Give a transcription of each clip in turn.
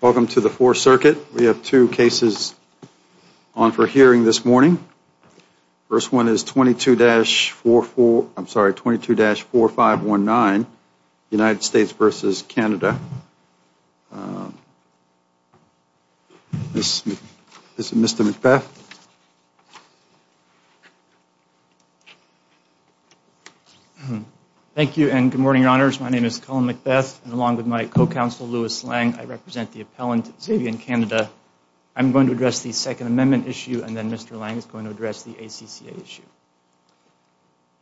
Welcome to the Fourth Circuit. We have two cases on for hearing this morning. The first one is 22-4519, United States v. Canada. This is Mr. McBeth. Thank you and good morning, Your Honors. My name is Colin McBeth, and along with my co-counsel, Louis Lang, I represent the appellant, Zavien Canada. I'm going to address the Second Amendment issue, and then Mr. Lang is going to address the ACCA issue.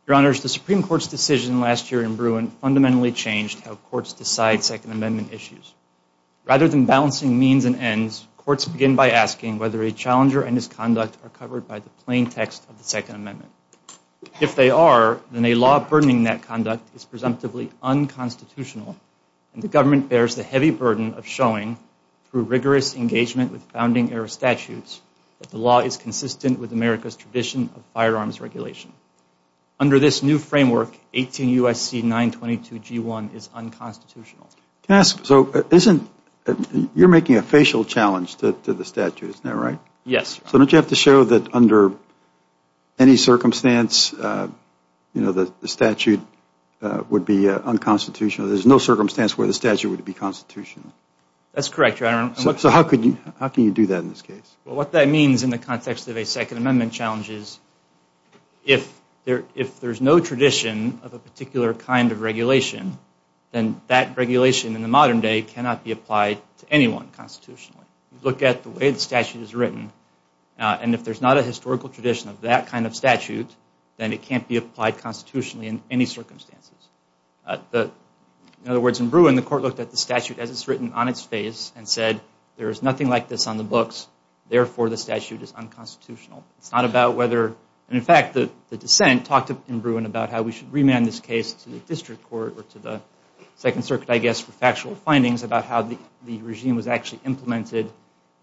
Your Honors, the Supreme Court's decision last year in Bruin fundamentally changed how courts decide Second Amendment issues. Rather than balancing means and ends, courts begin by asking whether a challenger and his conduct are covered by the plaintext of the Second Amendment. If they are, then a law burdening that conduct is presumptively unconstitutional, and the government bears the heavy burden of showing, through rigorous engagement with founding-era statutes, that the law is consistent with America's tradition of firearms regulation. Under this new framework, 18 U.S.C. 922 G-1 is unconstitutional. Can I ask, so isn't, you're making a facial challenge to the statute, isn't that right? Yes, Your Honor. So don't you have to show that under any circumstance, you know, the statute would be unconstitutional? There's no circumstance where the statute would be constitutional? That's correct, Your Honor. So how can you do that in this case? What that means in the context of a Second Amendment challenge is, if there's no tradition of a particular kind of regulation, then that regulation in the modern day cannot be applied to anyone constitutionally. Look at the way the statute is written, and if there's not a historical tradition of that kind of statute, then it can't be applied constitutionally in any circumstances. In other words, in Bruin, the court looked at the statute as it's written on its face and said, there's nothing like this on the books, therefore the statute is unconstitutional. It's not about whether, and in fact, the dissent talked in Bruin about how we should remand this case to the district court or to the Second Circuit, I guess, for factual findings about how the regime was actually implemented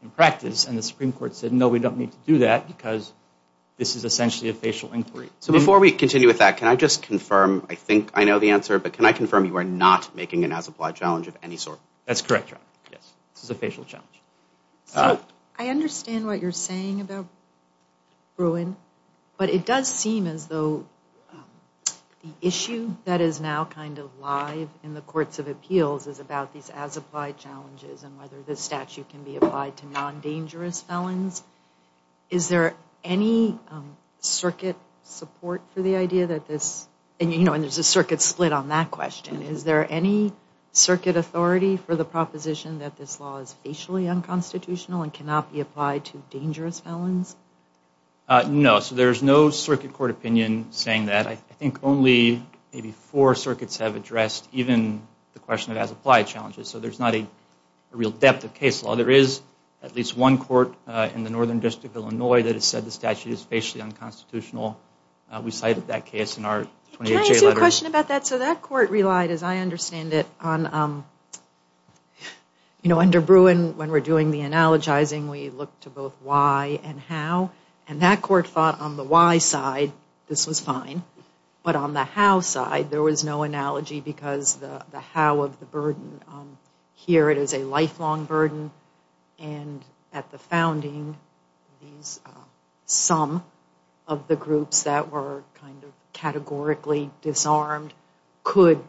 in practice, and the Supreme Court said, no, we don't need to do that because this is essentially a facial inquiry. So before we continue with that, can I just confirm, I think I know the answer, but can I confirm you are not making an as-applied challenge of any sort? That's correct, yes. This is a facial challenge. I understand what you're saying about Bruin, but it does seem as though the issue that is now kind of live in the courts of appeals is about these as-applied challenges and whether the statute can be applied to non-dangerous felons. Is there any circuit support for the idea that this, and there's a circuit split on that question, is there any circuit authority for the proposition that this law is facially unconstitutional and cannot be applied to dangerous felons? No, so there's no circuit court opinion saying that. I think only maybe four circuits have a real depth of case law. There is at least one court in the Northern District of Illinois that has said the statute is facially unconstitutional. We cited that case in our 28-J letter. Can I ask you a question about that? So that court relied, as I understand it, on, you know, under Bruin, when we're doing the analogizing, we look to both why and how, and that court fought on the why side, this was fine, but on the how side, there was no analogy because the how of the burden, here it is a lifelong burden, and at the founding, some of the groups that were kind of categorically disarmed could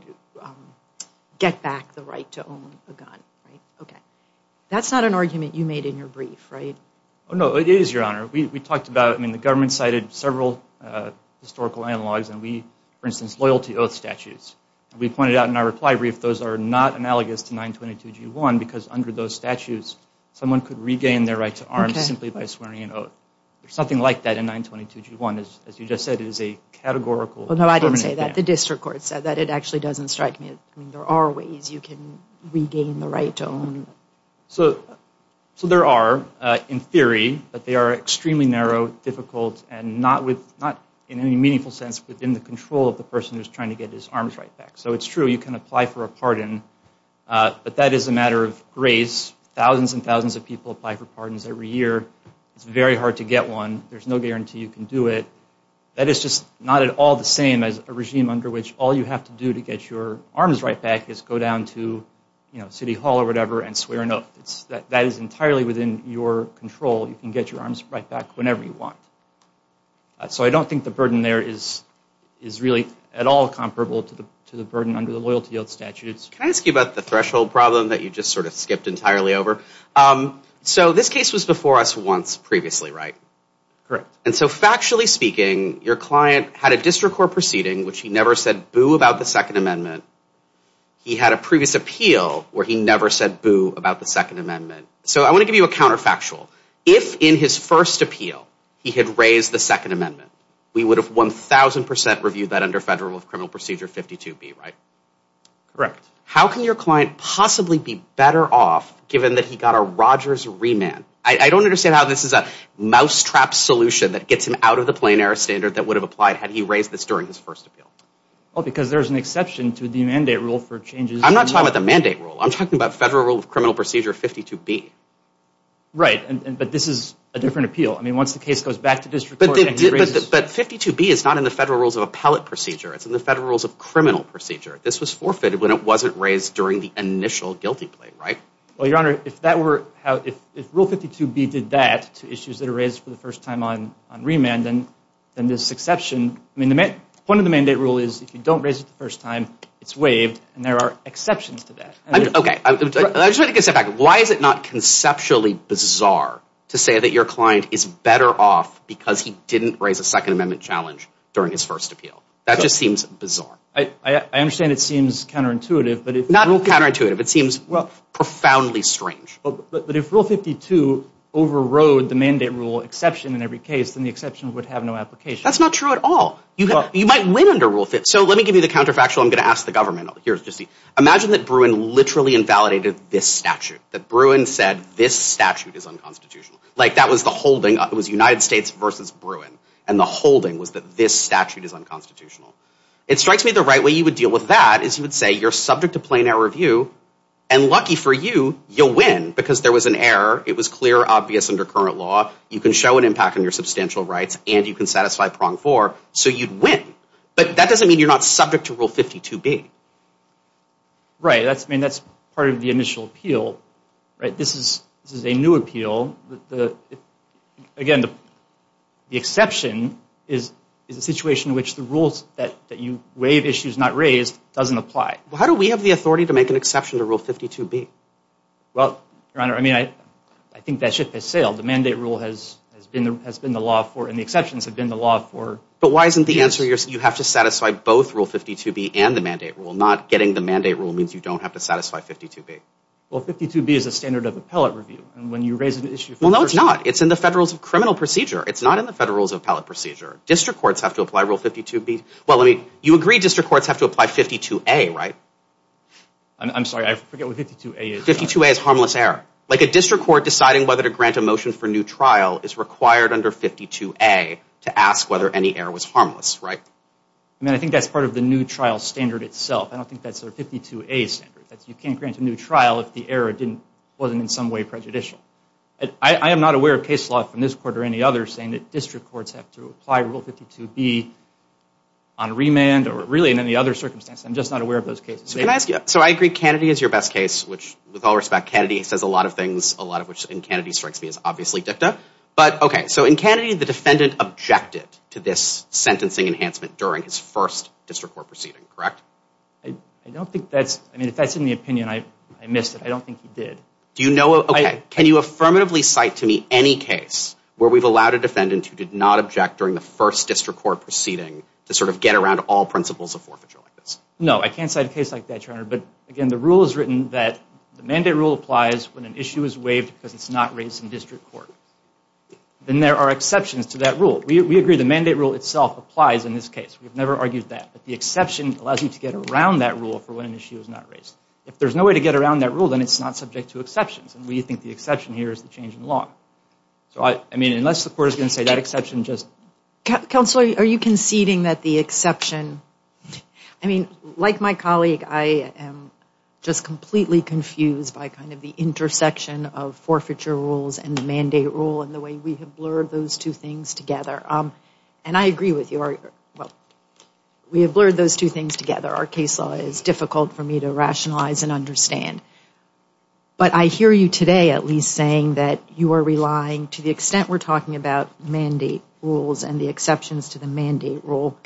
get back the right to own a gun, right? Okay. That's not an argument you made in your brief, right? No, it is, Your Honor. We talked about, I mean, the government cited several historical analogs, and we, for instance, loyalty oath statutes. We pointed out in our reply brief those are not analogous to 922G1 because under those statutes, someone could regain their right to arm simply by swearing an oath. There's something like that in 922G1, as you just said, it is a categorical, permanent ban. Well, no, I didn't say that. The district court said that. It actually doesn't strike me. I mean, there are ways you can regain the right to own. So there are, in theory, but they are extremely narrow, difficult, and not in any meaningful sense within the control of the person who's trying to get his arms right back. So it's true, you can apply for a pardon, but that is a matter of grace. Thousands and thousands of people apply for pardons every year. It's very hard to get one. There's no guarantee you can do it. That is just not at all the same as a regime under which all you have to do to get your arms right back is go down to, you know, City Hall or whatever and swear an oath. That is entirely within your control. You can get your arms right back whenever you want. So I don't think the burden there is really at all comparable to the burden under the loyalty oath statutes. Can I ask you about the threshold problem that you just sort of skipped entirely over? So this case was before us once previously, right? Correct. And so factually speaking, your client had a district court proceeding which he never said boo about the Second Amendment. He had a previous appeal where he never said boo about the Second Amendment. So I want to give you a counterfactual. If in his first appeal he had raised the Second Amendment, we would have 1,000 percent reviewed that under Federal Rule of Criminal Procedure 52B, right? Correct. How can your client possibly be better off given that he got a Rogers remand? I don't understand how this is a mousetrap solution that gets him out of the plain air standard that would have applied had he raised this during his first appeal. Because there's an exception to the mandate rule for changes. I'm not talking about the mandate rule. I'm talking about Federal Rule of Criminal Procedure 52B. Right. But this is a different appeal. I mean, once the case goes back to district court and he raises But 52B is not in the Federal Rules of Appellate Procedure. It's in the Federal Rules of Criminal Procedure. This was forfeited when it wasn't raised during the initial guilty plea, right? Well, Your Honor, if that were how, if Rule 52B did that to issues that are raised for the first time on remand, then this exception, I mean, the point of the mandate rule is if you don't raise it the first time, it's waived and there are exceptions to that. Okay. I just want to get set back. Why is it not conceptually bizarre to say that your client is better off because he didn't raise a Second Amendment challenge during his first appeal? That just seems bizarre. I understand it seems counterintuitive, but if Not counterintuitive. It seems profoundly strange. But if Rule 52 overrode the mandate rule exception in every case, then the exception would have no application. That's not true at all. You might win under Rule 52. So let me give you the counterfactual. I'm going to ask the government. Imagine that Bruin literally invalidated this statute, that Bruin said this statute is unconstitutional. Like that was the holding. It was United States versus Bruin. And the holding was that this statute is unconstitutional. It strikes me the right way you would deal with that is you would say you're subject to plain error review and lucky for you, you'll win because there was an error. It was clear, obvious under current law. You can show an impact on your substantial rights and you can satisfy prong for so you'd win. But that doesn't mean you're not subject to Rule 52 B. Right. That's I mean, that's part of the initial appeal, right? This is this is a new appeal. The again, the exception is is a situation in which the rules that you waive issues not raised doesn't apply. How do we have the authority to make an exception to Rule 52 B? Well, Your Honor, I mean, I I think that ship has sailed. The mandate rule has has been the law for and the exceptions have been the law for. But why isn't the answer you have to satisfy both Rule 52 B and the mandate rule? Not getting the mandate rule means you don't have to satisfy 52 B. Well, 52 B is a standard of appellate review. And when you raise an issue. Well, no, it's not. It's in the Federal's criminal procedure. It's not in the Federal's appellate procedure. District courts have to apply Rule 52 B. Well, I mean, you agree district courts have to apply 52 A, right? I'm sorry, I forget what 52 A is. 52 A is harmless error. Like a district court deciding whether to grant a motion for new trial is required under 52 A to ask whether any error was harmless, right? I mean, I think that's part of the new trial standard itself. I don't think that's a 52 A standard. You can't grant a new trial if the error didn't wasn't in some way prejudicial. I am not aware of case law from this court or any other saying that district courts have to apply Rule 52 B on remand or really in any other circumstance. I'm just not aware of those cases. So can I ask you, so I agree Kennedy is your best case, which with all respect, Kennedy says a lot of things, a lot of which in Kennedy strikes me as obviously dicta. But okay, so in Kennedy, the defendant objected to this sentencing enhancement during his first district court proceeding, correct? I don't think that's, I mean, if that's in the opinion, I missed it. I don't think he did. Do you know, okay, can you affirmatively cite to me any case where we've allowed a defendant who did not object during the first district court proceeding to sort of get around all principles of forfeiture like this? No, I can't cite a case like that, your honor. But again, the rule is written that the mandate rule applies when an issue is waived because it's not raised in district court. Then there are exceptions to that rule. We agree the mandate rule itself applies in this case. We've never argued that. But the exception allows you to get around that rule for when an issue is not raised. If there's no way to get around that rule, then it's not subject to exceptions. And we think the exception here is the change in law. So I mean, unless the court is going to say that exception just... Counselor, are you conceding that the exception, I mean, like my colleague, I am just completely confused by kind of the intersection of forfeiture rules and the mandate rule and the way we have blurred those two things together. And I agree with you. We have blurred those two things together. Our case law is difficult for me to rationalize and understand. But I hear you today at least saying that you are relying, to the extent we're talking about mandate rules and the exceptions to the mandate rule,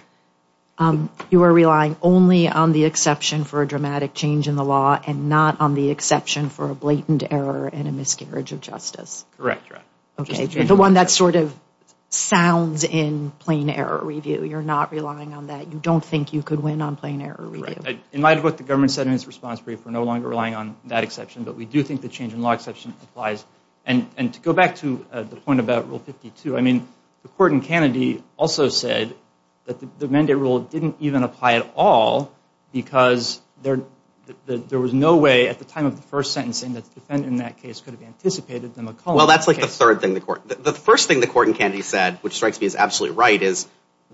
you are relying only on the exception for a dramatic change in the law and not on the exception for a blatant error and a miscarriage of justice. Correct. Okay. The one that sort of sounds in plain error review. You're not relying on that. You don't think you could win on plain error review. In light of what the government said in its response brief, we're no longer relying on that exception. But we do think the change in law exception applies. And to go back to the point about Rule 52, I mean, the court in Kennedy also said that the mandate rule didn't even apply at all because there was no way at the time of the first sentencing that the defendant in that case could have anticipated the McCulloch case. Well, that's like the third thing the court, the first thing the court in Kennedy said, which strikes me as absolutely right, is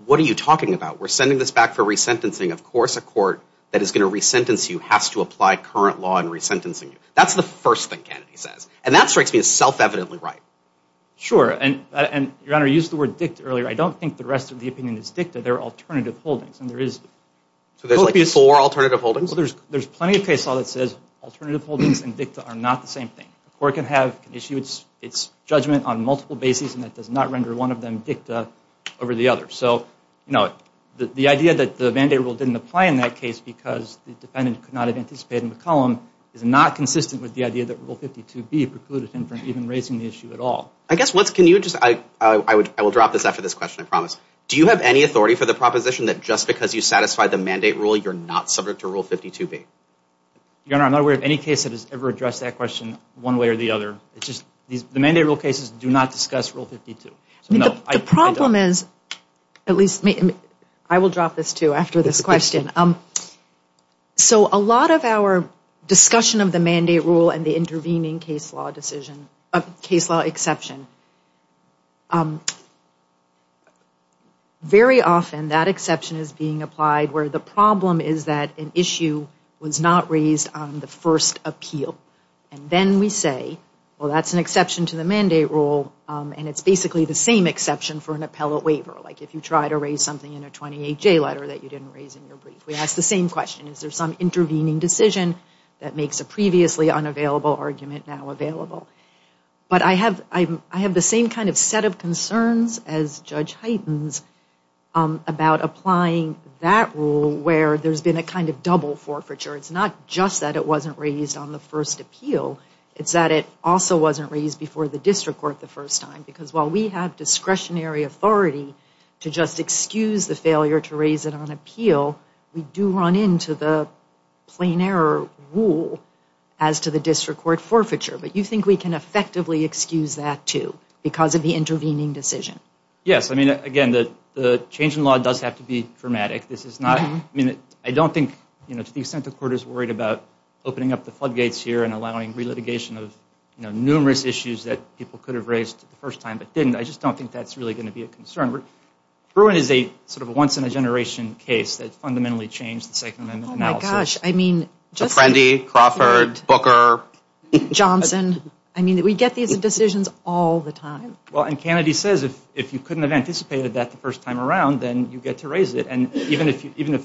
what are you talking about? We're sending this back for resentencing. Of course, a court that is going to resentence you has to apply current law in resentencing you. That's the first thing Kennedy says. And that strikes me as self-evidently right. Sure. And, Your Honor, you used the word dict earlier. I don't think the rest of the opinion is dicta. They're alternative holdings. And there is... So there's like four alternative holdings? There's plenty of case law that says alternative holdings and dicta are not the same thing. A court can have an issue, it's judgment on multiple bases, and that does not render one of them dicta over the other. So, you know, the idea that the mandate rule didn't apply in that case because the defendant could not have anticipated McCulloch is not consistent with the idea that Rule 52B precluded him from even raising the issue at all. I guess what's... Can you just... I will drop this after this question, I promise. Do you have any authority for the proposition that just because you satisfied the mandate rule, you're not subject to Rule 52B? Your Honor, I'm not aware of any case that has ever addressed that question one way or the other. It's just the mandate rule cases do not discuss Rule 52. I mean, the problem is, at least... I will drop this too after this question. So a lot of our discussion of the mandate rule and the intervening case law decision... case law exception, very often that exception is being applied where the problem is that an issue was not raised on the first appeal. And then we say, well, that's an exception to the mandate rule, and it's basically the same exception for an appellate waiver. Like, if you try to raise something in a 28J letter that you didn't raise in your brief, we ask the same question. Is there some intervening decision that makes a previously unavailable argument now available? But I have the same kind of set of concerns as Judge Hyten's about applying that rule where there's been a kind of double forfeiture. It's not just that it wasn't raised on the first appeal. It's that it also wasn't raised before the district court the first time. Because while we have discretionary authority to just excuse the failure to raise it on court forfeiture, but you think we can effectively excuse that, too, because of the intervening decision? Yes. I mean, again, the change in law does have to be dramatic. This is not... I mean, I don't think, you know, to the extent the court is worried about opening up the floodgates here and allowing re-litigation of, you know, numerous issues that people could have raised the first time but didn't. I just don't think that's really going to be a concern. Bruin is a sort of a once-in-a-generation case that fundamentally changed the Second Amendment analysis. Oh, my gosh. I mean, just... Crawford, Booker... Johnson. I mean, we get these decisions all the time. Well, and Kennedy says if you couldn't have anticipated that the first time around, then you get to raise it. And even if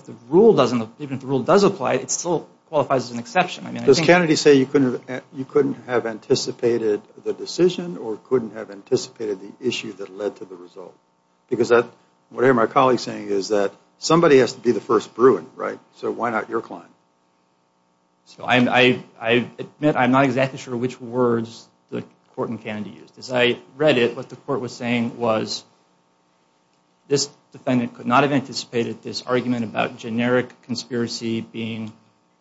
the rule doesn't... even if the rule does apply, it still qualifies as an exception. I mean, I think... Does Kennedy say you couldn't have anticipated the decision or couldn't have anticipated the issue that led to the result? Because that... what I hear my colleagues saying is that somebody has to be the first Bruin, right? So why not your client? So I admit I'm not exactly sure which words the court in Kennedy used. As I read it, what the court was saying was this defendant could not have anticipated this argument about generic conspiracy being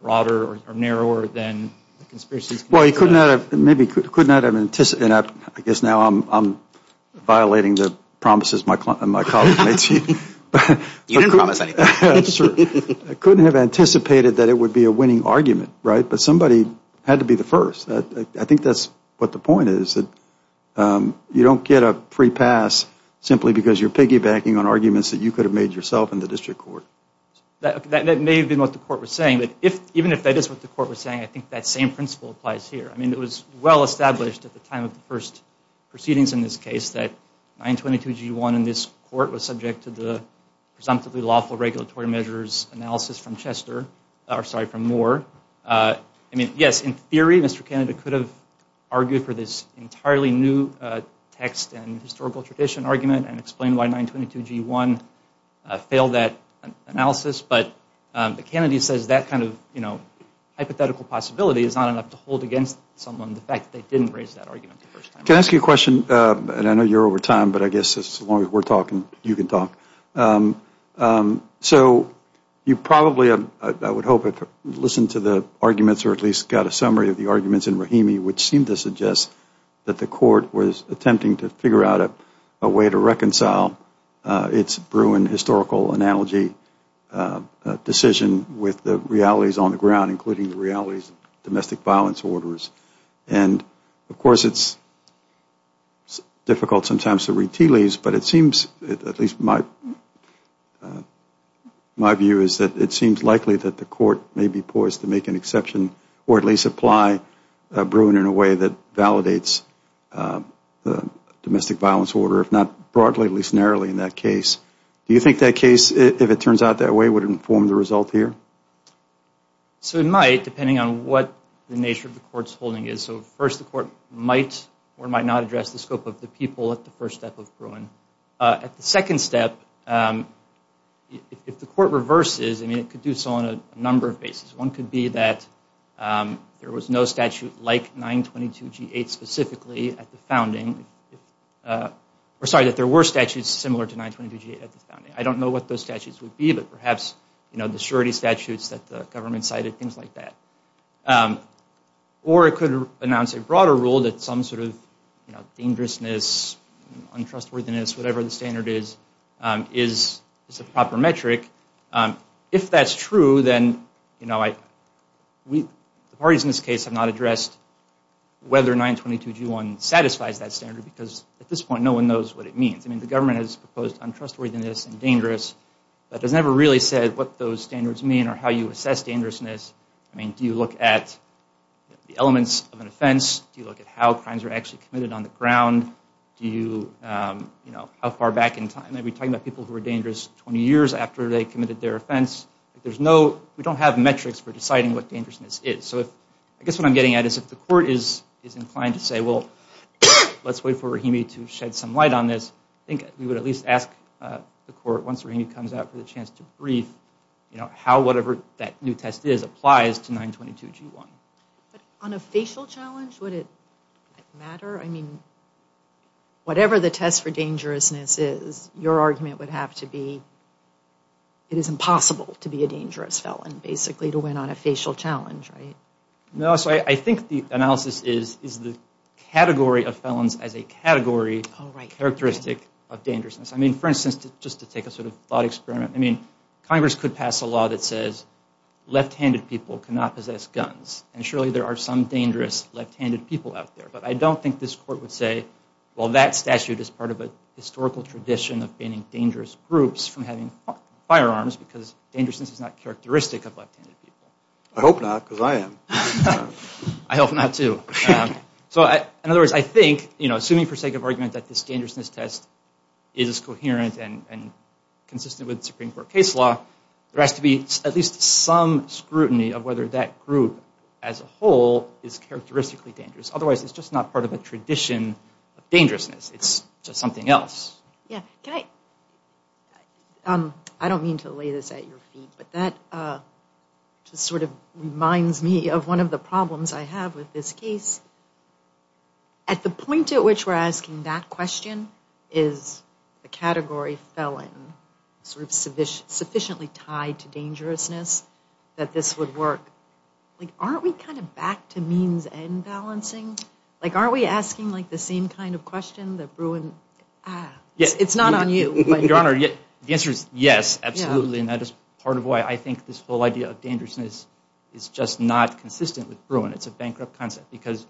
broader or narrower than the conspiracies... Well, he could not have... maybe could not have anticipated... I guess now I'm violating the promises my colleague made to you. You didn't promise anything. I couldn't have anticipated that it would be a winning argument, right? But somebody had to be the first. I think that's what the point is, that you don't get a free pass simply because you're piggybacking on arguments that you could have made yourself in the district court. That may have been what the court was saying, but even if that is what the court was saying, I think that same principle applies here. I mean, it was well established at the time of the first proceedings in this case that 922G1 in this court was subject to the presumptively lawful regulatory measures analysis from Chester, or sorry, from Moore. I mean, yes, in theory, Mr. Kennedy could have argued for this entirely new text and historical tradition argument and explained why 922G1 failed that analysis, but Kennedy says that kind of, you know, hypothetical possibility is not enough to hold against someone the fact that they didn't raise that argument the first time. Can I ask you a question? And I know you're over time, but I guess as long as we're talking, you can talk. So you probably, I would hope, have listened to the arguments or at least got a summary of the arguments in Rahimi, which seemed to suggest that the court was attempting to figure out a way to reconcile its Bruin historical analogy decision with the realities on the ground, including the realities of domestic violence orders. And of course, it's difficult sometimes to read tea leaves, but it seems, at least my view, is that it seems likely that the court may be poised to make an exception or at least apply Bruin in a way that validates the domestic violence order, if not broadly, at least narrowly in that case. Do you think that case, if it turns out that way, would inform the result here? So it might, depending on what the nature of the court's holding is. So first, the court might or might not address the scope of the people at the first step of Bruin. At the second step, if the court reverses, I mean, it could do so on a number of bases. One could be that there was no statute like 922G8 specifically at the founding, or sorry, that there were statutes similar to 922G8 at the founding. I don't know what those statutes would be, but perhaps the surety statutes that the government cited, things like that. Or it could announce a broader rule that some sort of, you know, dangerousness, untrustworthiness, whatever the standard is, is a proper metric. If that's true, then, you know, the parties in this case have not addressed whether 922G1 satisfies that standard, because at this point, no one knows what it means. I mean, the government has proposed untrustworthiness and dangerous, but has never really said what those standards mean or how you assess dangerousness. I mean, do you look at the elements of an offense? Do you look at how crimes are actually committed on the ground? Do you, you know, how far back in time? Are we talking about people who were dangerous 20 years after they committed their offense? There's no, we don't have metrics for deciding what dangerousness is. So I guess what I'm getting at is if the court is inclined to say, well, let's wait for Rahimi to shed some light on this, I think we would at least ask the court, once Rahimi comes out, for the chance to brief, you know, how whatever that new test is applies to 922G1. On a facial challenge, would it matter? I mean, whatever the test for dangerousness is, your argument would have to be it is impossible to be a dangerous felon, basically, to win on a facial challenge, right? No, so I think the analysis is the category of felons as a category characteristic of dangerousness. I mean, for instance, just to take a sort of thought experiment, I mean, left-handed people cannot possess guns, and surely there are some dangerous left-handed people out there, but I don't think this court would say, well, that statute is part of a historical tradition of banning dangerous groups from having firearms because dangerousness is not characteristic of left-handed people. I hope not, because I am. I hope not, too. So in other words, I think, you know, assuming for sake of argument that this dangerousness test is coherent and consistent with Supreme Court case law, there has to be at least some scrutiny of whether that group as a whole is characteristically dangerous. Otherwise, it's just not part of a tradition of dangerousness. It's just something else. Yeah, can I? I don't mean to lay this at your feet, but that just sort of reminds me of one of the problems I have with this case. At the point at which we're asking that question is the category felon sort of sufficiently tied to dangerousness that this would work, like, aren't we kind of back to means and balancing? Like, aren't we asking like the same kind of question that Bruin, ah, it's not on you. Your Honor, the answer is yes, absolutely, and that is part of why I think this whole idea of dangerousness is just not consistent with Bruin. It's a bankrupt concept because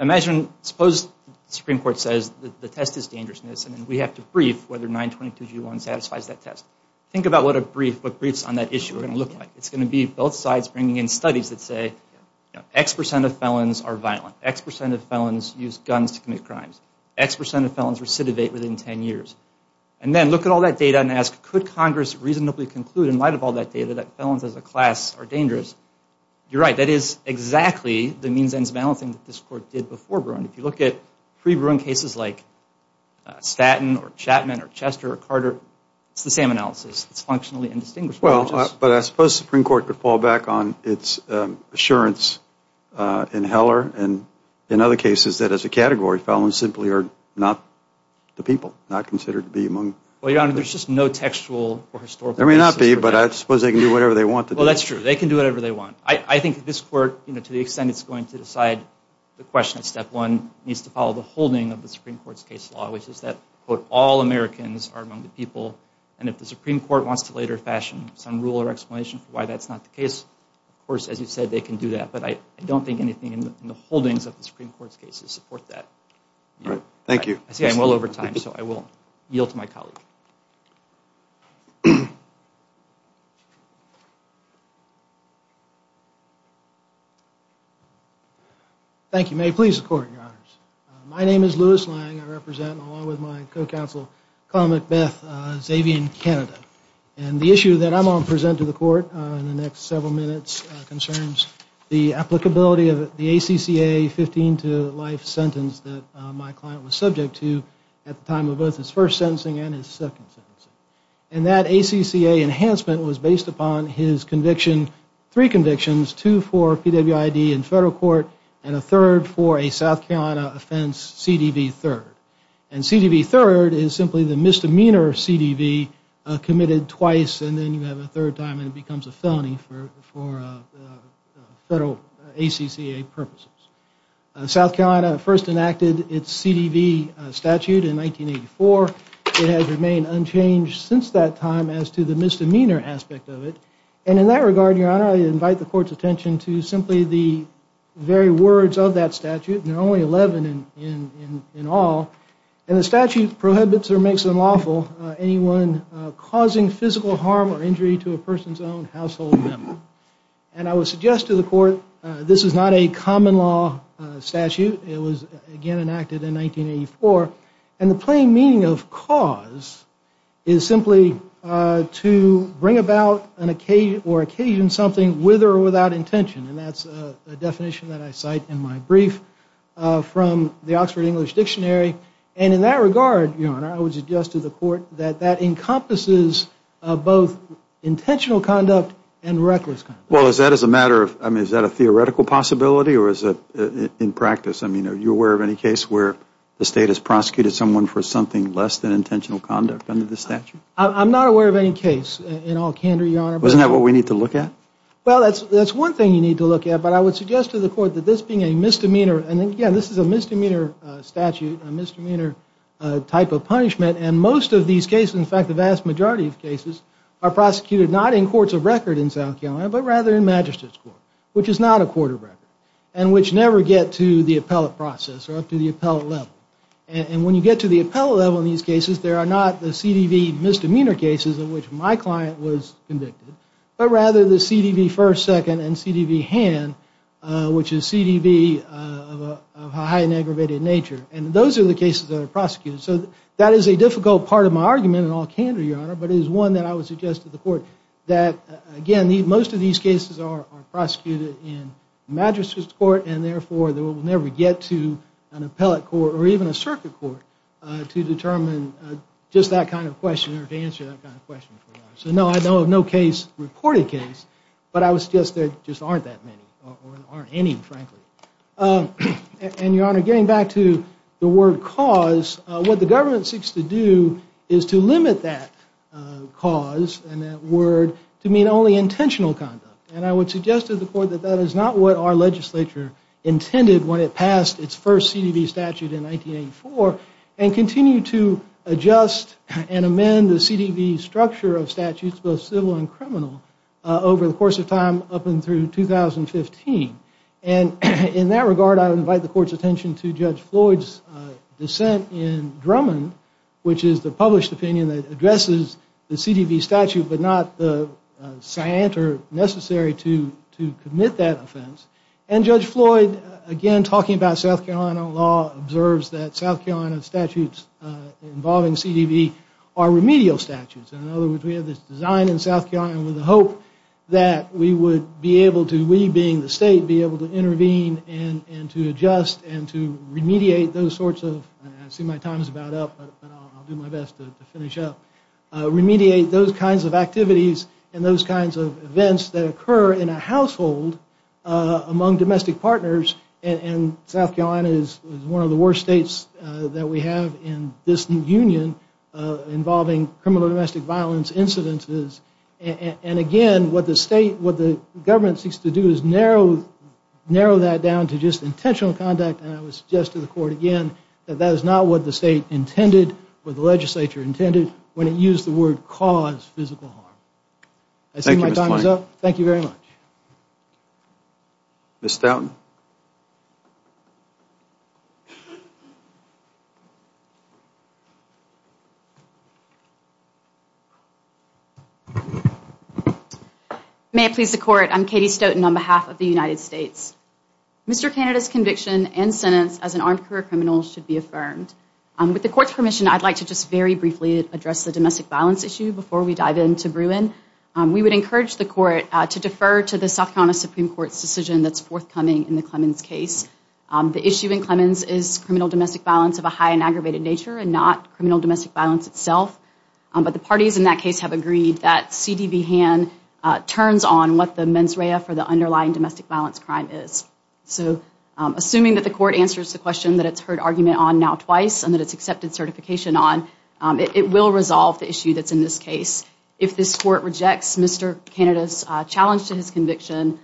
imagine, suppose Supreme Court says the test is dangerousness and we have to brief whether 922G1 satisfies that test. Think about what a brief, what briefs on that issue are going to look like. It's going to be both sides bringing in studies that say, you know, X percent of felons are violent. X percent of felons use guns to commit crimes. X percent of felons recidivate within 10 years. And then look at all that data and ask, could Congress reasonably conclude in light of all that data that felons as a class are dangerous? You're right, that is exactly the means and balancing that this Court did before Bruin. If you look at pre-Bruin cases like Statton or Chapman or Chester or Carter, it's the same analysis. It's functionally indistinguishable. Well, but I suppose Supreme Court could fall back on its assurance in Heller and in other cases that as a category felons simply are not the people, not considered to be among the people. Well, Your Honor, there's just no textual or historical basis for that. There may not be, but I suppose they can do whatever they want to do. No, that's true. They can do whatever they want. I think this Court, you know, to the extent it's going to decide the question of step one, needs to follow the holding of the Supreme Court's case law, which is that, quote, all Americans are among the people. And if the Supreme Court wants to later fashion some rule or explanation for why that's not the case, of course, as you said, they can do that. But I don't think anything in the holdings of the Supreme Court's cases support that. All right. Thank you. I see I'm well over time, so I will yield to my colleague. Thank you. May it please the Court, Your Honors. My name is Louis Lang. I represent, along with my co-counsel, Colin McBeth, Xavier in Canada. And the issue that I'm going to present to the Court in the next several minutes concerns the applicability of the ACCA 15-to-life sentence that my client was subject to at the time of both his first sentencing and his second sentencing. And that ACCA enhancement was based upon his conviction, three convictions, two for PWID in federal court and a third for a South Carolina offense, CDV 3rd. And CDV 3rd is simply the misdemeanor CDV committed twice and then you have a third time and it first enacted its CDV statute in 1984. It has remained unchanged since that time as to the misdemeanor aspect of it. And in that regard, Your Honor, I invite the Court's attention to simply the very words of that statute, and there are only 11 in all, and the statute prohibits or makes unlawful anyone causing physical harm or injury to a person's own household member. And I would suggest to the Court this is not a common law statute. It was, again, enacted in 1984. And the plain meaning of cause is simply to bring about an occasion or occasion something with or without intention. And that's a definition that I cite in my brief from the Oxford English Dictionary. And in that regard, Your Honor, I would suggest to the Court that that encompasses both intentional conduct and reckless conduct. Well, is that as a matter of, I mean, is that a theoretical possibility or is it in practice? I mean, are you aware of any case where the State has prosecuted someone for something less than intentional conduct under the statute? I'm not aware of any case in all candor, Your Honor. Isn't that what we need to look at? Well, that's one thing you need to look at, but I would suggest to the Court that this being a misdemeanor, and again, this is a misdemeanor statute, a misdemeanor type of punishment, and most of these cases, in fact the vast majority of cases, are prosecuted not in courts of record in South Carolina, but rather in Magistrate's Court, which is not a court of record, and which never get to the appellate process or up to the appellate level. And when you get to the appellate level in these cases, there are not the CDV misdemeanor cases in which my client was convicted, but rather the CDV first, second, and CDV hand, which is CDV of a high and aggravated nature. And those are the cases that are prosecuted. So that is a difficult part of my argument in all candor, Your Honor, but it is one that I would suggest to the Court that, again, most of these cases are prosecuted in Magistrate's Court, and therefore they will never get to an appellate court or even a circuit court to determine just that kind of question or to answer that kind of question. So no, I have no case, reported case, but I would suggest there just aren't that many, or aren't any, frankly. And, Your Honor, getting back to the word cause, what the government seeks to do is to limit that cause and that word to mean only intentional conduct. And I would suggest to the Court that that is not what our legislature intended when it passed its first CDV statute in 1984, and continue to adjust and amend the CDV structure of statutes, both civil and criminal, over the course of time up and through 2015. And in that regard, I would invite the Court's attention to Judge Floyd's dissent in Drummond, which is the published opinion that addresses the CDV statute but not the scienter necessary to commit that offense. And Judge Floyd, again, talking about South Carolina law, observes that South Carolina statutes involving CDV are remedial statutes. In other words, we have this design in South Carolina with the hope that we would be able to, we being the state, be able to intervene and to adjust and to remediate those sorts of, I see my time is about up, but I'll do my best to finish up, remediate those kinds of activities and those kinds of events that occur in a household among domestic partners. And South Carolina is one of the worst states that we have in this union involving criminal domestic violence incidences. And again, what the state, what the government seeks to do is narrow that down to just intentional conduct. And I would suggest to the Court, again, that that is not what the state intended, what the legislature intended, when it used the statute to cause physical harm. I see my time is up. Thank you very much. Ms. Stoughton. May it please the Court, I'm Katie Stoughton on behalf of the United States. Mr. Canada's conviction and sentence as an armed career criminal should be affirmed. With the Court's permission, I'd like to just very briefly address the domestic violence issue before we dive into Bruin. We would encourage the Court to defer to the South Carolina Supreme Court's decision that's forthcoming in the Clemens case. The issue in Clemens is criminal domestic violence of a high and aggravated nature and not criminal domestic violence itself. But the parties in that case have agreed that C.D.B. Hann turns on what the mens rea for the underlying domestic violence crime is. So, assuming that the Court answers the question that it's heard argument on now twice and that it's accepted certification on, it will resolve the issue that's in this case. If this Court rejects Mr. Canada's challenge to his conviction,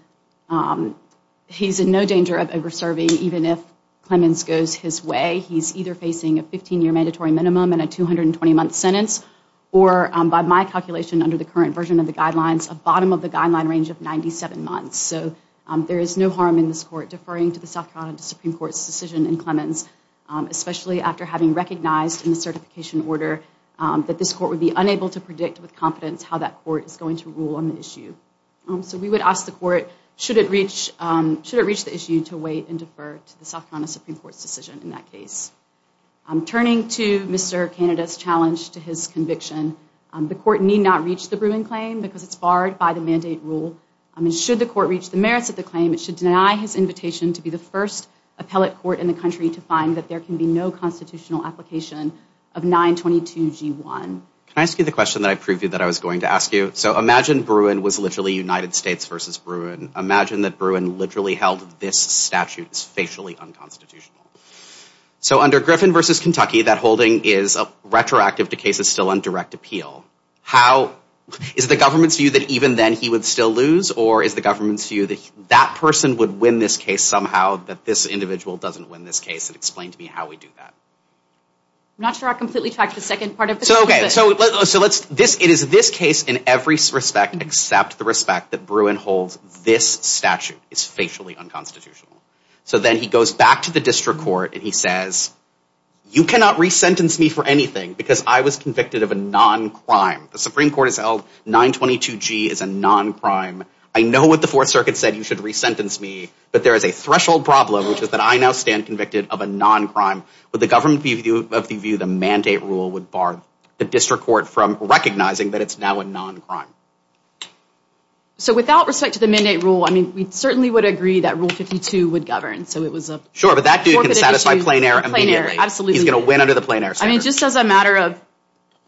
he's in no danger of over-serving even if Clemens goes his way. He's either facing a 15-year mandatory minimum and a 220-month sentence or, by my calculation under the current version of the guidelines, a bottom of the guideline range of 97 months. So, there is no harm in this Court deferring to the South Carolina Supreme Court's decision in Clemens, especially after having recognized in the certification order that this Court would be unable to predict with confidence how that Court is going to rule on the issue. So, we would ask the Court, should it reach the issue, to wait and defer to the South Carolina Supreme Court's decision in that case. Turning to Mr. Canada's challenge to his conviction, the Court need not reach the Bruin claim because it's barred by the mandate rule. Should the Court deny his invitation to be the first appellate court in the country to find that there can be no constitutional application of 922G1? Can I ask you the question that I previewed that I was going to ask you? So, imagine Bruin was literally United States versus Bruin. Imagine that Bruin literally held this statute is facially unconstitutional. So under Griffin versus Kentucky, that holding is retroactive to cases still on direct appeal. How, is the government's view that even then he would still lose or is the government's view that that person would win this case somehow, that this individual doesn't win this case and explain to me how we do that? I'm not sure I completely tracked the second part of the question. So, it is this case in every respect except the respect that Bruin holds this statute is facially unconstitutional. So, then he goes back to the district court and he says, you cannot re-sentence me for anything because I was convicted of a non-crime. The Supreme Court has held 922G is a non-crime. I know what the Fourth Circuit said, you should re-sentence me, but there is a threshold problem, which is that I now stand convicted of a non-crime. Would the government of the view the mandate rule would bar the district court from recognizing that it's now a non-crime? So, without respect to the mandate rule, I mean, we certainly would agree that Rule 52 would govern. So, it was a... Sure, but that dude can satisfy plain air immediately. He's going to win under the plain air statute. I mean, just as a matter of,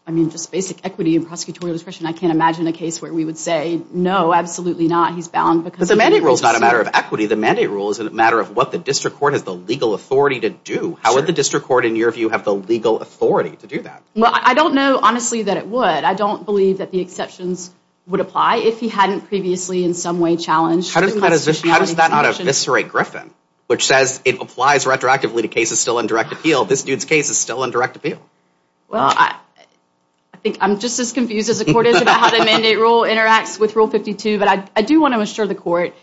I mean, just basic equity and prosecutorial discretion, I can't imagine a case where we would say, no, absolutely not, he's bound because... But the mandate rule is not a matter of equity. The mandate rule is a matter of what the district court has the legal authority to do. How would the district court, in your view, have the legal authority to do that? Well, I don't know, honestly, that it would. I don't believe that the exceptions would apply if he hadn't previously in some way challenged... How does that not eviscerate Griffin, which says it applies retroactively to cases still in direct appeal. This dude's case is still in direct appeal. Well, I think I'm just as confused as the court is about how the mandate rule interacts with Rule 52, but I do want to assure the court,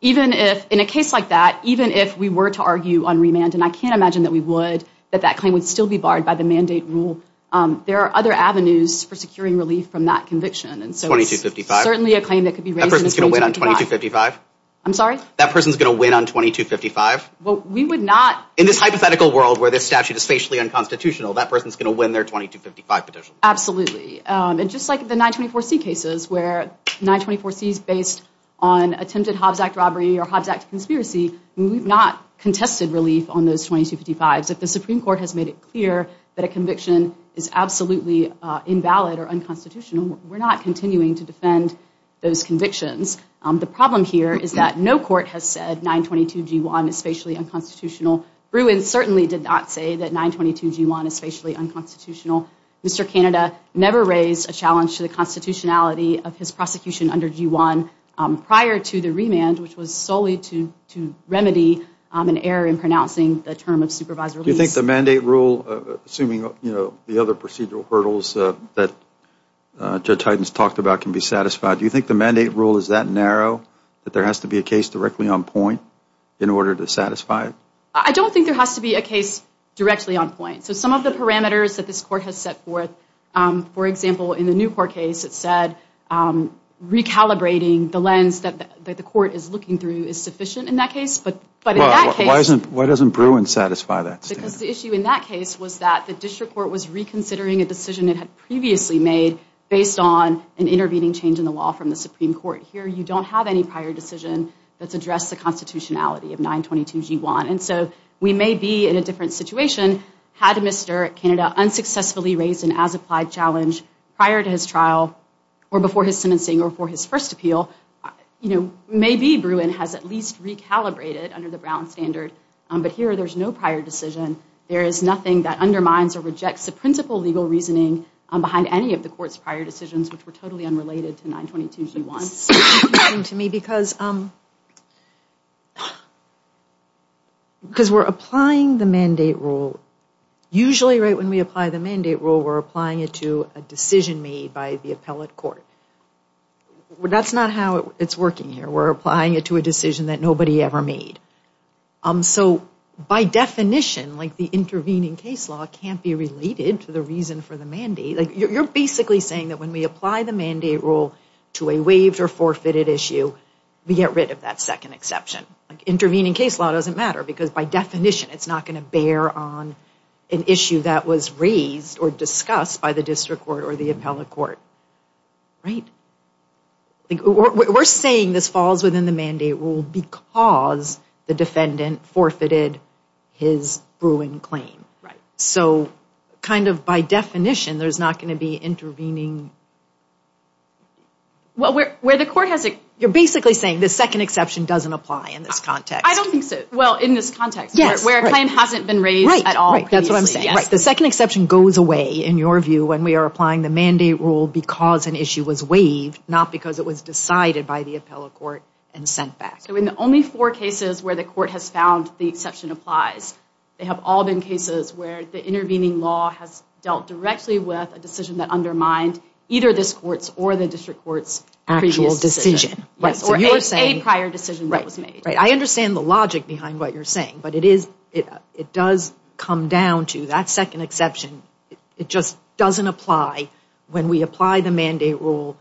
even if, in a case like that, even if we were to argue on remand, and I can't imagine that we would, that that claim would still be barred by the mandate rule, there are other avenues for securing relief from that conviction. And so it's... 2255. Certainly a claim that could be raised in a 2255. That person's going to win on 2255? I'm sorry? That person's going to win on 2255? Well, we would not... In this hypothetical world where this statute is facially unconstitutional, that person's going to win their 2255 petition. Absolutely. And just like the 924C cases, where 924C is based on attempted Hobbs Act robbery or Hobbs Act conspiracy, we've not contested relief on those 2255s. If the Supreme Court has made it clear that a conviction is absolutely invalid or unconstitutional, we're not continuing to defend those convictions. The problem here is that no court has said 922G1 is facially unconstitutional. Bruin certainly did not say that 922G1 is facially unconstitutional. Mr. Canada never raised a challenge to the constitutionality of his prosecution under G1 prior to the remand, which was solely to remedy an error in pronouncing the term of supervised release. Do you think the mandate rule, assuming, you know, the other procedural hurdles that Judge Hytens talked about can be satisfied, do you think the mandate rule is that narrow, that there I don't think there has to be a case directly on point. So some of the parameters that this court has set forth, for example, in the Newport case, it said recalibrating the lens that the court is looking through is sufficient in that case, but in that case. Why doesn't Bruin satisfy that? Because the issue in that case was that the district court was reconsidering a decision it had previously made based on an intervening change in the law from the Supreme Court. Here, you don't have any prior decision that's addressed the constitutionality of 922 G1. And so we may be in a different situation had Mr. Canada unsuccessfully raised an as-applied challenge prior to his trial or before his sentencing or before his first appeal. You know, maybe Bruin has at least recalibrated under the Brown standard, but here there's no prior decision. There is nothing that undermines or rejects the principal legal reasoning behind any of the court's prior decisions, which were totally unrelated to the case. Because we're applying the mandate rule, usually right when we apply the mandate rule, we're applying it to a decision made by the appellate court. That's not how it's working here. We're applying it to a decision that nobody ever made. So by definition, like the intervening case law can't be related to the reason for the mandate. You're basically saying that when we apply the mandate rule to a waived or forfeited issue, we get rid of that second exception. Intervening case law doesn't matter because by definition, it's not going to bear on an issue that was raised or discussed by the district court or the appellate court. Right? We're saying this falls within the mandate rule because the defendant forfeited his Bruin claim. So kind of by definition, there's not going to be any intervening... Well, where the court has... You're basically saying the second exception doesn't apply in this context. I don't think so. Well, in this context, where a claim hasn't been raised at all previously. Right. That's what I'm saying. The second exception goes away, in your view, when we are applying the mandate rule because an issue was waived, not because it was decided by the appellate court and sent back. So in the only four cases where the court has found the exception applies, they have all been undermined, either this court's or the district court's actual decision. Or a prior decision that was made. Right. I understand the logic behind what you're saying, but it does come down to that second exception. It just doesn't apply when we apply the mandate rule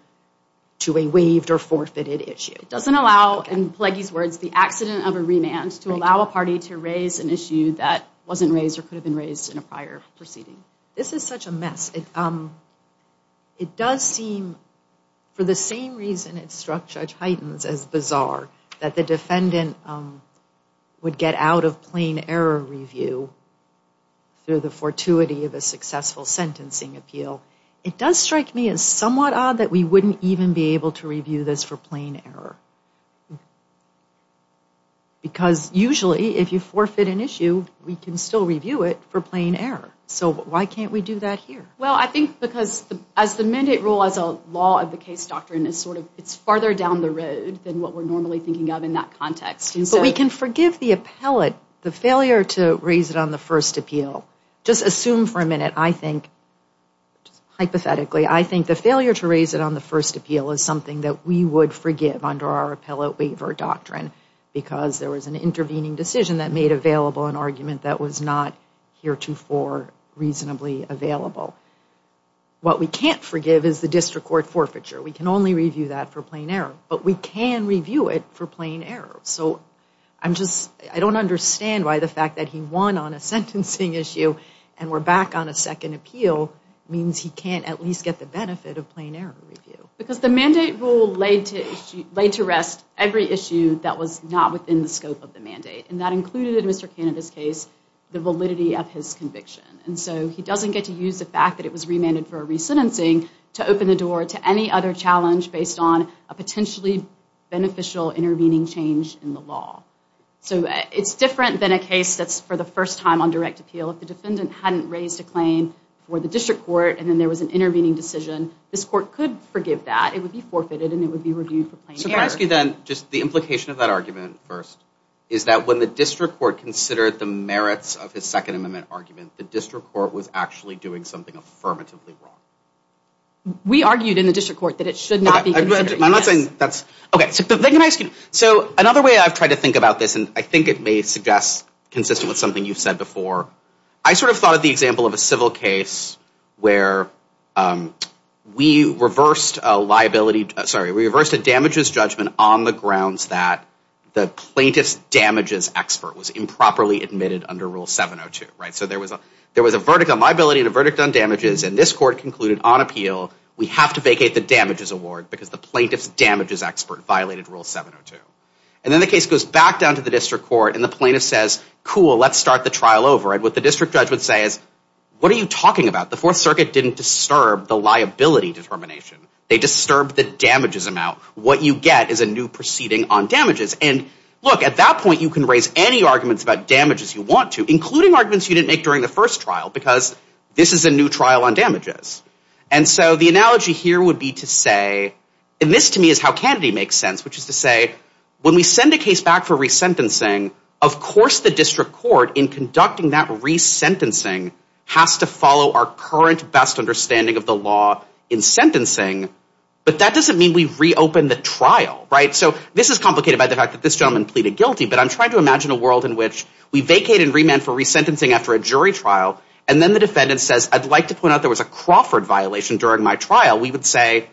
to a waived or forfeited issue. It doesn't allow, in Pleggy's words, the accident of a remand to allow a party to raise an issue that wasn't raised or could have been raised in a prior proceeding. This is such a mess. It does seem, for the same reason it struck Judge Heitens as bizarre that the defendant would get out of plain error review through the fortuity of a successful sentencing appeal, it does strike me as somewhat odd that we wouldn't even be able to review this for plain error. Because usually, if you forfeit an issue, we can still review it for plain error. So why can't we do that here? Well, I think because as the mandate rule as a law of the case doctrine is sort of, it's farther down the road than what we're normally thinking of in that context. But we can forgive the appellate, the failure to raise it on the first appeal. Just assume for a minute, I think, hypothetically, I think the failure to raise it on the first appeal is something that we would forgive under our appellate waiver doctrine. Because there was an intervening decision that made available an argument that was not heretofore reasonably available. What we can't forgive is the district court forfeiture. We can only review that for plain error. But we can review it for plain error. So I'm just, I don't understand why the fact that he won on a sentencing issue and we're back on a second appeal means he can't at least get the benefit of plain error review. Because the mandate rule laid to rest every issue that was not within the scope of the mandate. And that included, in Mr. Canada's case, the validity of his conviction. And so he doesn't get to use the fact that it was remanded for a re-sentencing to open the door to any other challenge based on a potentially beneficial intervening change in the law. So it's different than a case that's for the first time on direct appeal. If the defendant hadn't raised a claim for the district court and then there was an intervening decision, this court could forgive that. It would be forfeited and it would be reviewed So can I ask you then, just the implication of that argument first, is that when the district court considered the merits of his Second Amendment argument, the district court was actually doing something affirmatively wrong? We argued in the district court that it should not be considered. I'm not saying that's, okay, so then can I ask you, so another way I've tried to think about this, and I think it may suggest consistent with something you've said before, I sort of thought of the example of a civil case where we reversed a liability, sorry, we reversed a damages judgment on the grounds that the plaintiff's damages expert was improperly admitted under Rule 702. So there was a verdict on liability and a verdict on damages and this court concluded on appeal, we have to vacate the damages award because the plaintiff's damages expert violated Rule 702. And then the case goes back down to the district court and the plaintiff says, cool, let's start the trial over. And what the district judge would say is, what are you talking about? The Fourth Circuit didn't disturb the liability determination. They disturbed the damages amount. What you get is a new proceeding on damages. And look, at that point you can raise any arguments about damages you want to, including arguments you didn't make during the first trial because this is a new trial on damages. And so the analogy here would be to say, and this to me is how Kennedy makes sense, which is to say, when we send a case back for resentencing, of course the district court in conducting that resentencing has to follow our current best understanding of the law in sentencing, but that doesn't mean we reopen the trial, right? So this is complicated by the fact that this gentleman pleaded guilty, but I'm trying to imagine a world in which we vacate and remand for resentencing after a jury trial and then the defendant says, I'd like to point out there was a Crawford violation during my trial. We would say,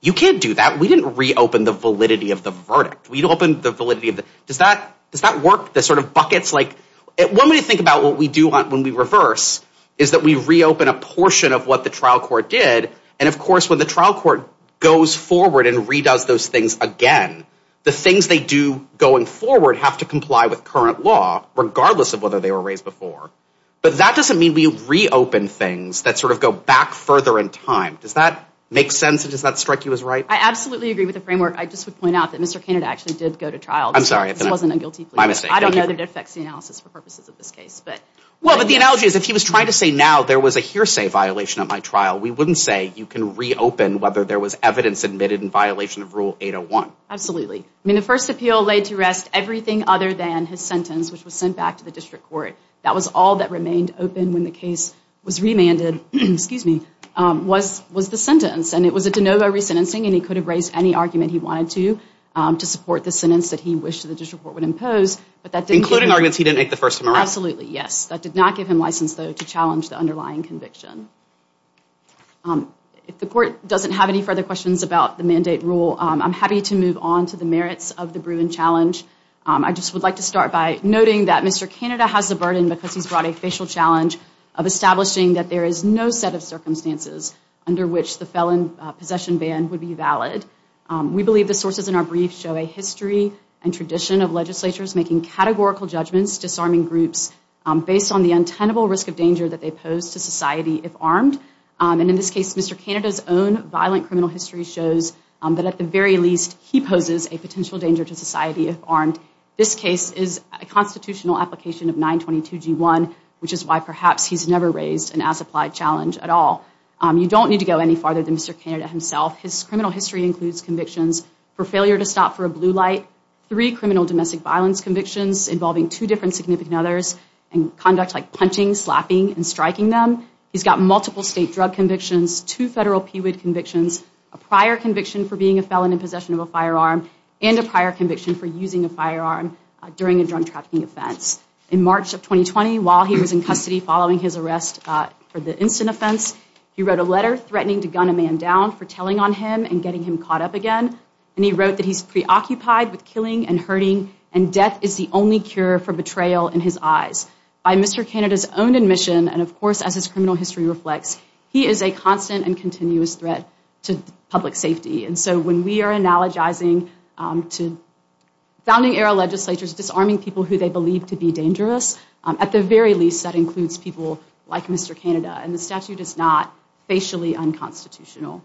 you can't do that. We didn't reopen the validity of the verdict. We opened the validity of the, does that work? The sort of buckets like, when we think about what we do when we reverse is that we reopen a portion of what the trial court did, and of course when the trial court goes forward and redoes those things again, the things they do going forward have to comply with current law, regardless of whether they were raised before. But that doesn't mean we reopen things that sort of go back further in time. Does that make sense and does that strike you as right? I absolutely agree with the framework. I just would point out that Mr. Kennedy actually did go to trial. I'm sorry. This wasn't a guilty plea. My mistake. I don't know that it affects the analysis for purposes of this case, but. Well, but the analogy is if he was trying to say now there was a hearsay violation at my trial, we wouldn't say you can reopen whether there was evidence admitted in violation of Rule 801. Absolutely. I mean, the first appeal laid to rest everything other than his sentence, which was sent back to the district court. That was all that remained open when the case was remanded, excuse me, was the sentence. And it was a de novo resentencing and he could raise any argument he wanted to, to support the sentence that he wished the district court would impose. Including arguments he didn't make the first time around. Absolutely. Yes. That did not give him license, though, to challenge the underlying conviction. If the court doesn't have any further questions about the mandate rule, I'm happy to move on to the merits of the Bruin challenge. I just would like to start by noting that Mr. Kennedy has the burden, because he's brought a facial challenge, of establishing that there is no set of circumstances under which the felon possession ban would be valid. We believe the sources in our brief show a history and tradition of legislatures making categorical judgments disarming groups based on the untenable risk of danger that they pose to society if armed. And in this case, Mr. Kennedy's own violent criminal history shows that at the very least, he poses a potential danger to society if armed. This case is a constitutional application of 922G1, which is why perhaps he's never raised an as-applied challenge at all. You don't need to go any farther than Mr. Kennedy himself. His criminal history includes convictions for failure to stop for a blue light, three criminal domestic violence convictions involving two different significant others, and conduct like punching, slapping, and striking them. He's got multiple state drug convictions, two federal PWID convictions, a prior conviction for being a felon in possession of a firearm, and a prior conviction for using a firearm during a drug trafficking offense. In March of 2020, while he was in custody following his arrest for the instant offense, he wrote a letter threatening to gun a man down for telling on him and getting him caught up again. And he wrote that he's preoccupied with killing and hurting, and death is the only cure for betrayal in his eyes. By Mr. Kennedy's own admission, and of course as his criminal history reflects, he is a constant and continuous threat to public safety. And so when we are analogizing to founding era legislatures disarming people who they believe to be dangerous, at the very least that includes people like Mr. Kennedy, and the statute is not facially unconstitutional.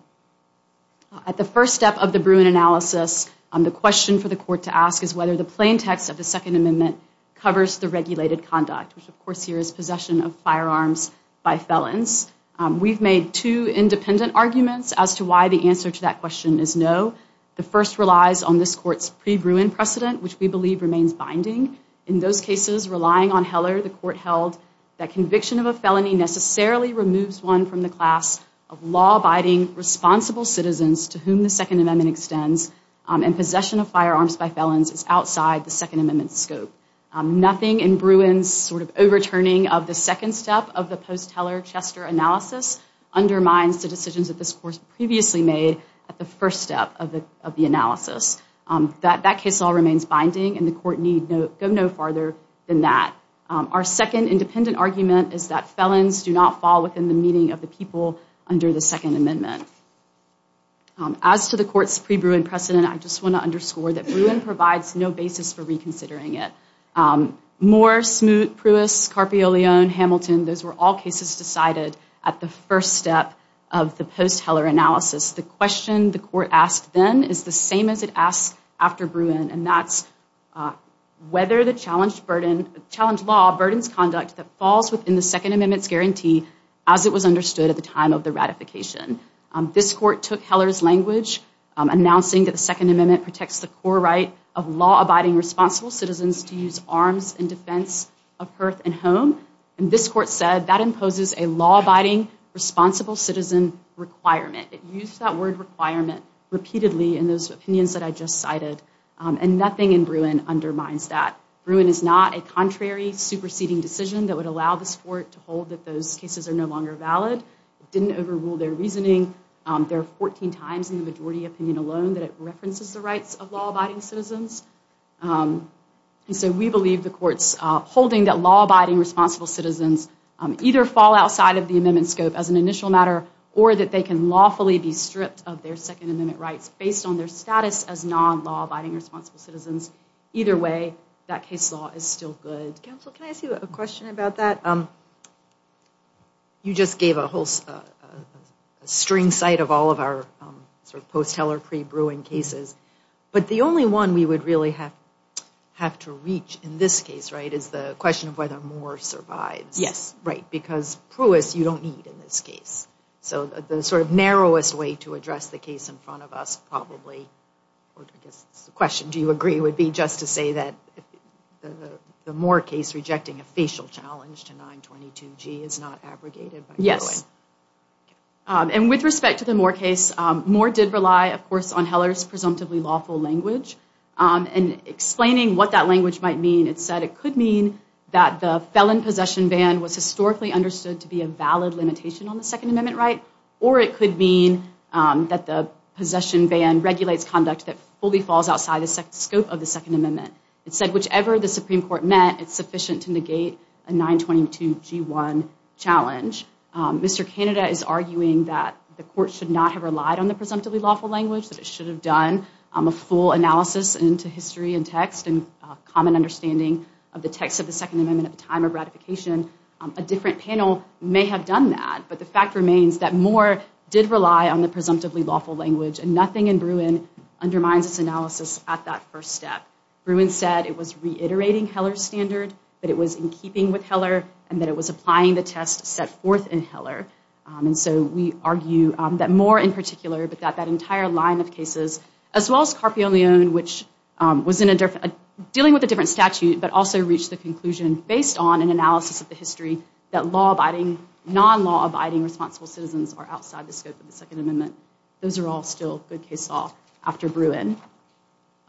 At the first step of the Bruin analysis, the question for the court to ask is whether the plain text of the Second Amendment covers the regulated conduct, which of course here is possession of firearms by felons. We've made two independent arguments as to why the answer to that question is no. The first relies on this court's pre-Bruin precedent, which we believe remains binding. In those cases, relying on Heller, the court held that conviction of a felony necessarily removes one from the class of law-abiding, responsible citizens to whom the Second Amendment extends, and possession of firearms by felons is outside the Second Amendment's scope. Nothing in Bruin's overturning of the second step of the post-Heller-Chester analysis undermines the decisions that this court previously made at the first step of the analysis. That case law remains binding, and the court need go no farther than that. Our second independent argument is that felons do not fall within the meaning of the people under the Second Amendment. As to the court's pre-Bruin precedent, I just want to underscore that Bruin provides no reason for reconsidering it. Moore, Smoot, Pruess, Carpio-Leone, Hamilton, those were all cases decided at the first step of the post-Heller analysis. The question the court asked then is the same as it asks after Bruin, and that's whether the challenged law burdens conduct that falls within the Second Amendment's guarantee as it was understood at the time of the ratification. This court took Heller's language, announcing that the Second Amendment protects the core right of law-abiding, responsible citizens to use arms in defense of hearth and home. This court said that imposes a law-abiding, responsible citizen requirement. It used that word requirement repeatedly in those opinions that I just cited, and nothing in Bruin undermines that. Bruin is not a contrary, superseding decision that would allow this court to hold that those cases are no longer valid. It didn't overrule their reasoning. There are 14 times in the majority opinion alone that it references the rights of law-abiding citizens, and so we believe the court's holding that law-abiding, responsible citizens either fall outside of the amendment scope as an initial matter or that they can lawfully be stripped of their Second Amendment rights based on their status as non-law-abiding, responsible citizens. Either way, that case law is still good. Counsel, can I ask you a question about that? You just gave a whole string site of all of our sort of post-Heller pre-Bruin cases, but the only one we would really have to reach in this case, right, is the question of whether Moore survives. Yes. Right, because Pruess, you don't need in this case, so the sort of narrowest way to address the case in front of us probably, or I guess the question, do you agree, would be just to say that the Moore case rejecting a facial challenge to 922G is not abrogated by Bruin. Yes. And with respect to the Moore case, Moore did rely, of course, on Heller's presumptively lawful language. And explaining what that language might mean, it said it could mean that the felon possession ban was historically understood to be a valid limitation on the Second Amendment right, or it could mean that the possession ban regulates conduct that fully falls outside the scope of the Second Amendment. It said whichever the Supreme Court met, it's sufficient to negate a 922G1 challenge. Mr. Canada is arguing that the court should not have relied on the presumptively lawful language, that it should have done a full analysis into history and text and common understanding of the text of the Second Amendment at the time of ratification. A different panel may have done that, but the fact remains that Moore did rely on the presumptively lawful language, and nothing in Bruin undermines its analysis at that first step. Bruin said it was reiterating Heller's standard, that it was in keeping with Heller, and that it was applying the test set forth in Heller. And so we argue that Moore in particular, but that that entire line of cases, as well as Carpio Leon, which was dealing with a different statute, but also reached the conclusion based on an analysis of the history, that non-law abiding responsible citizens are outside the scope of the Second Amendment. Those are all still good case law after Bruin.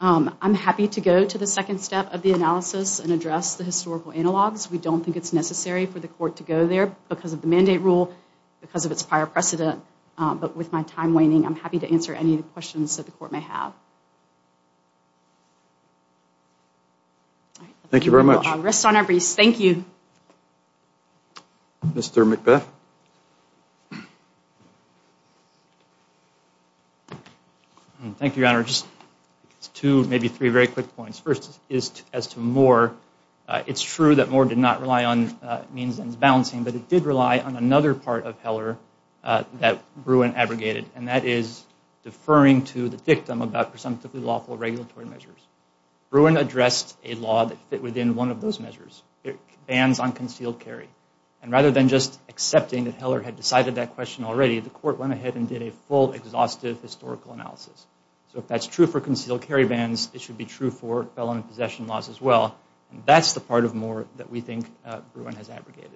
I'm happy to go to the second step of the analysis and address the historical analogs. We don't think it's necessary for the court to go there because of the mandate rule, because of its prior precedent. But with my time waning, I'm happy to answer any questions that the court may have. Thank you very much. Rest on our breasts. Thank you. Mr. McBeth. Thank you, Your Honor. Just two, maybe three very quick points. First is as to Moore, it's true that Moore did not rely on means and balancing, but it did rely on another part of Heller that Bruin abrogated, and that is deferring to the victim about presumptively lawful regulatory measures. Bruin addressed a law that fit within one of those measures, bans on concealed carry. And rather than just accepting that Heller had decided that question already, the court went ahead and did a full exhaustive historical analysis. So if that's true for concealed carry bans, it should be true for felon and possession laws as well. And that's the part of Moore that we think Bruin has abrogated.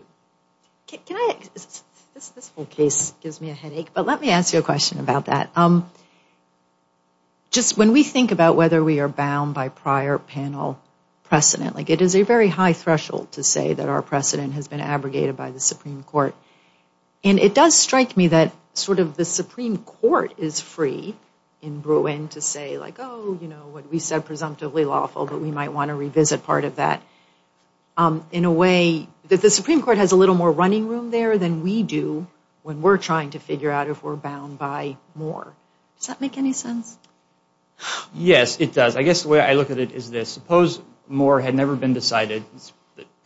This whole case gives me a headache, but let me ask you a question about that. Just when we think about whether we are bound by prior panel precedent, like it is a very high threshold to say that our precedent has been abrogated by the Supreme Court, and it does strike me that sort of the Supreme Court is free in Bruin to say like, oh, you know, what we said presumptively lawful, but we might want to revisit part of that. In a way, the Supreme Court has a little more running room there than we do when we're trying to figure out if we're bound by Moore. Does that make any sense? Yes, it does. I guess the way I look at it is this. Suppose Moore had never been decided,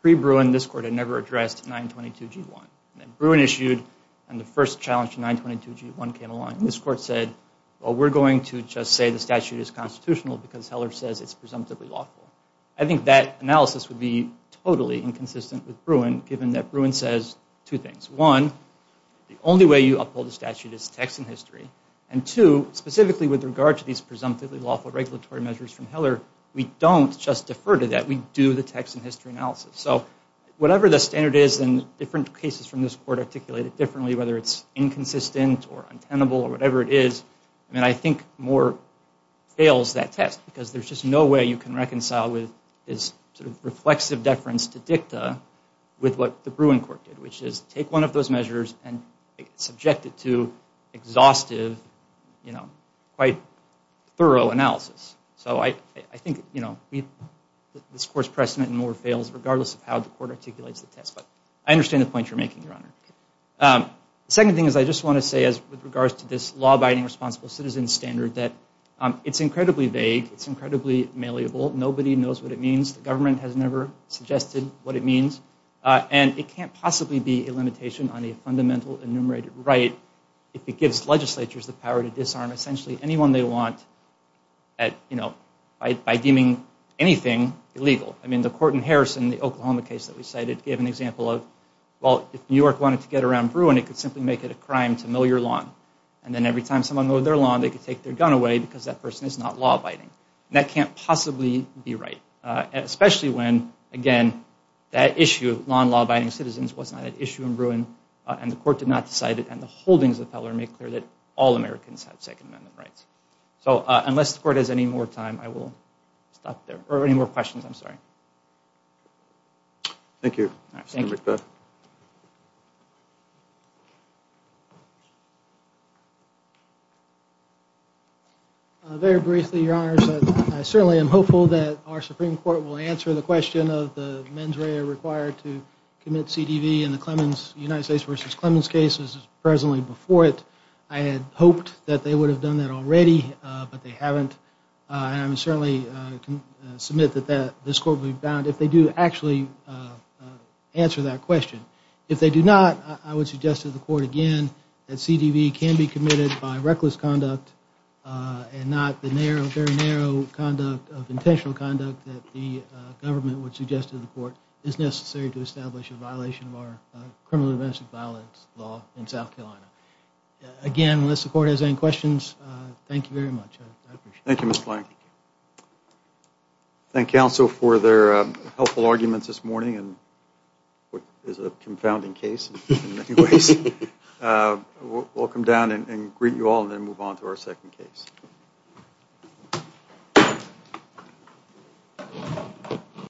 pre-Bruin this court had never addressed 922G1. Then Bruin issued, and the first challenge to 922G1 came along. This court said, well, we're going to just say the statute is constitutional because Heller says it's presumptively lawful. I think that analysis would be totally inconsistent with Bruin, given that Bruin says two things. One, the only way you uphold the statute is text and history, and two, specifically with regard to these presumptively lawful regulatory measures from Heller, we don't just defer to that. We do the text and history analysis. Whatever the standard is in different cases from this court articulated differently, whether it's inconsistent or untenable or whatever it is, I think Moore fails that test because there's just no way you can reconcile his reflexive deference to dicta with what the Bruin court did, which is take one of those measures and subject it to exhaustive, quite thorough analysis. So I think this court's precedent in Moore fails regardless of how the court articulates the test, but I understand the point you're making, Your Honor. The second thing is I just want to say, with regards to this law-abiding responsible citizen standard, that it's incredibly vague, it's incredibly malleable, nobody knows what it means, the government has never suggested what it means, and it can't possibly be a limitation on a fundamental enumerated right if it gives legislatures the power to disarm essentially anyone they want by deeming anything illegal. The court in Harrison, the Oklahoma case that we cited, gave an example of, well, if New York wanted to get around Bruin, it could simply make it a crime to mill your lawn, and then every time someone mowed their lawn, they could take their gun away because that person is not law-abiding, and that can't possibly be right, especially when, again, that issue of law-abiding citizens was not an issue in Bruin, and the court did not decide it, and the holdings of the feller make clear that all Americans have Second Amendment rights. So unless the court has any more time, I will stop there, or any more questions, I'm sorry. Thank you. Senator McBeth. Very briefly, Your Honors, I certainly am hopeful that our Supreme Court will answer the question of the mens rea required to commit CDV in the Clemens, United States v. Clemens case, which is presently before it. I had hoped that they would have done that already, but they haven't, and I certainly submit that this court will be bound if they do actually answer that question. If they do not, I would suggest to the court again that CDV can be committed by reckless conduct and not the very narrow conduct of intentional conduct that the government would suggest to the court is necessary to establish a violation of our criminal domestic violence law in South Carolina. Again, unless the court has any questions, thank you very much. I appreciate it. Thank you, Mr. Plank. Thank counsel for their helpful arguments this morning, and what is a confounding case in many ways. We'll come down and greet you all, and then move on to our second case.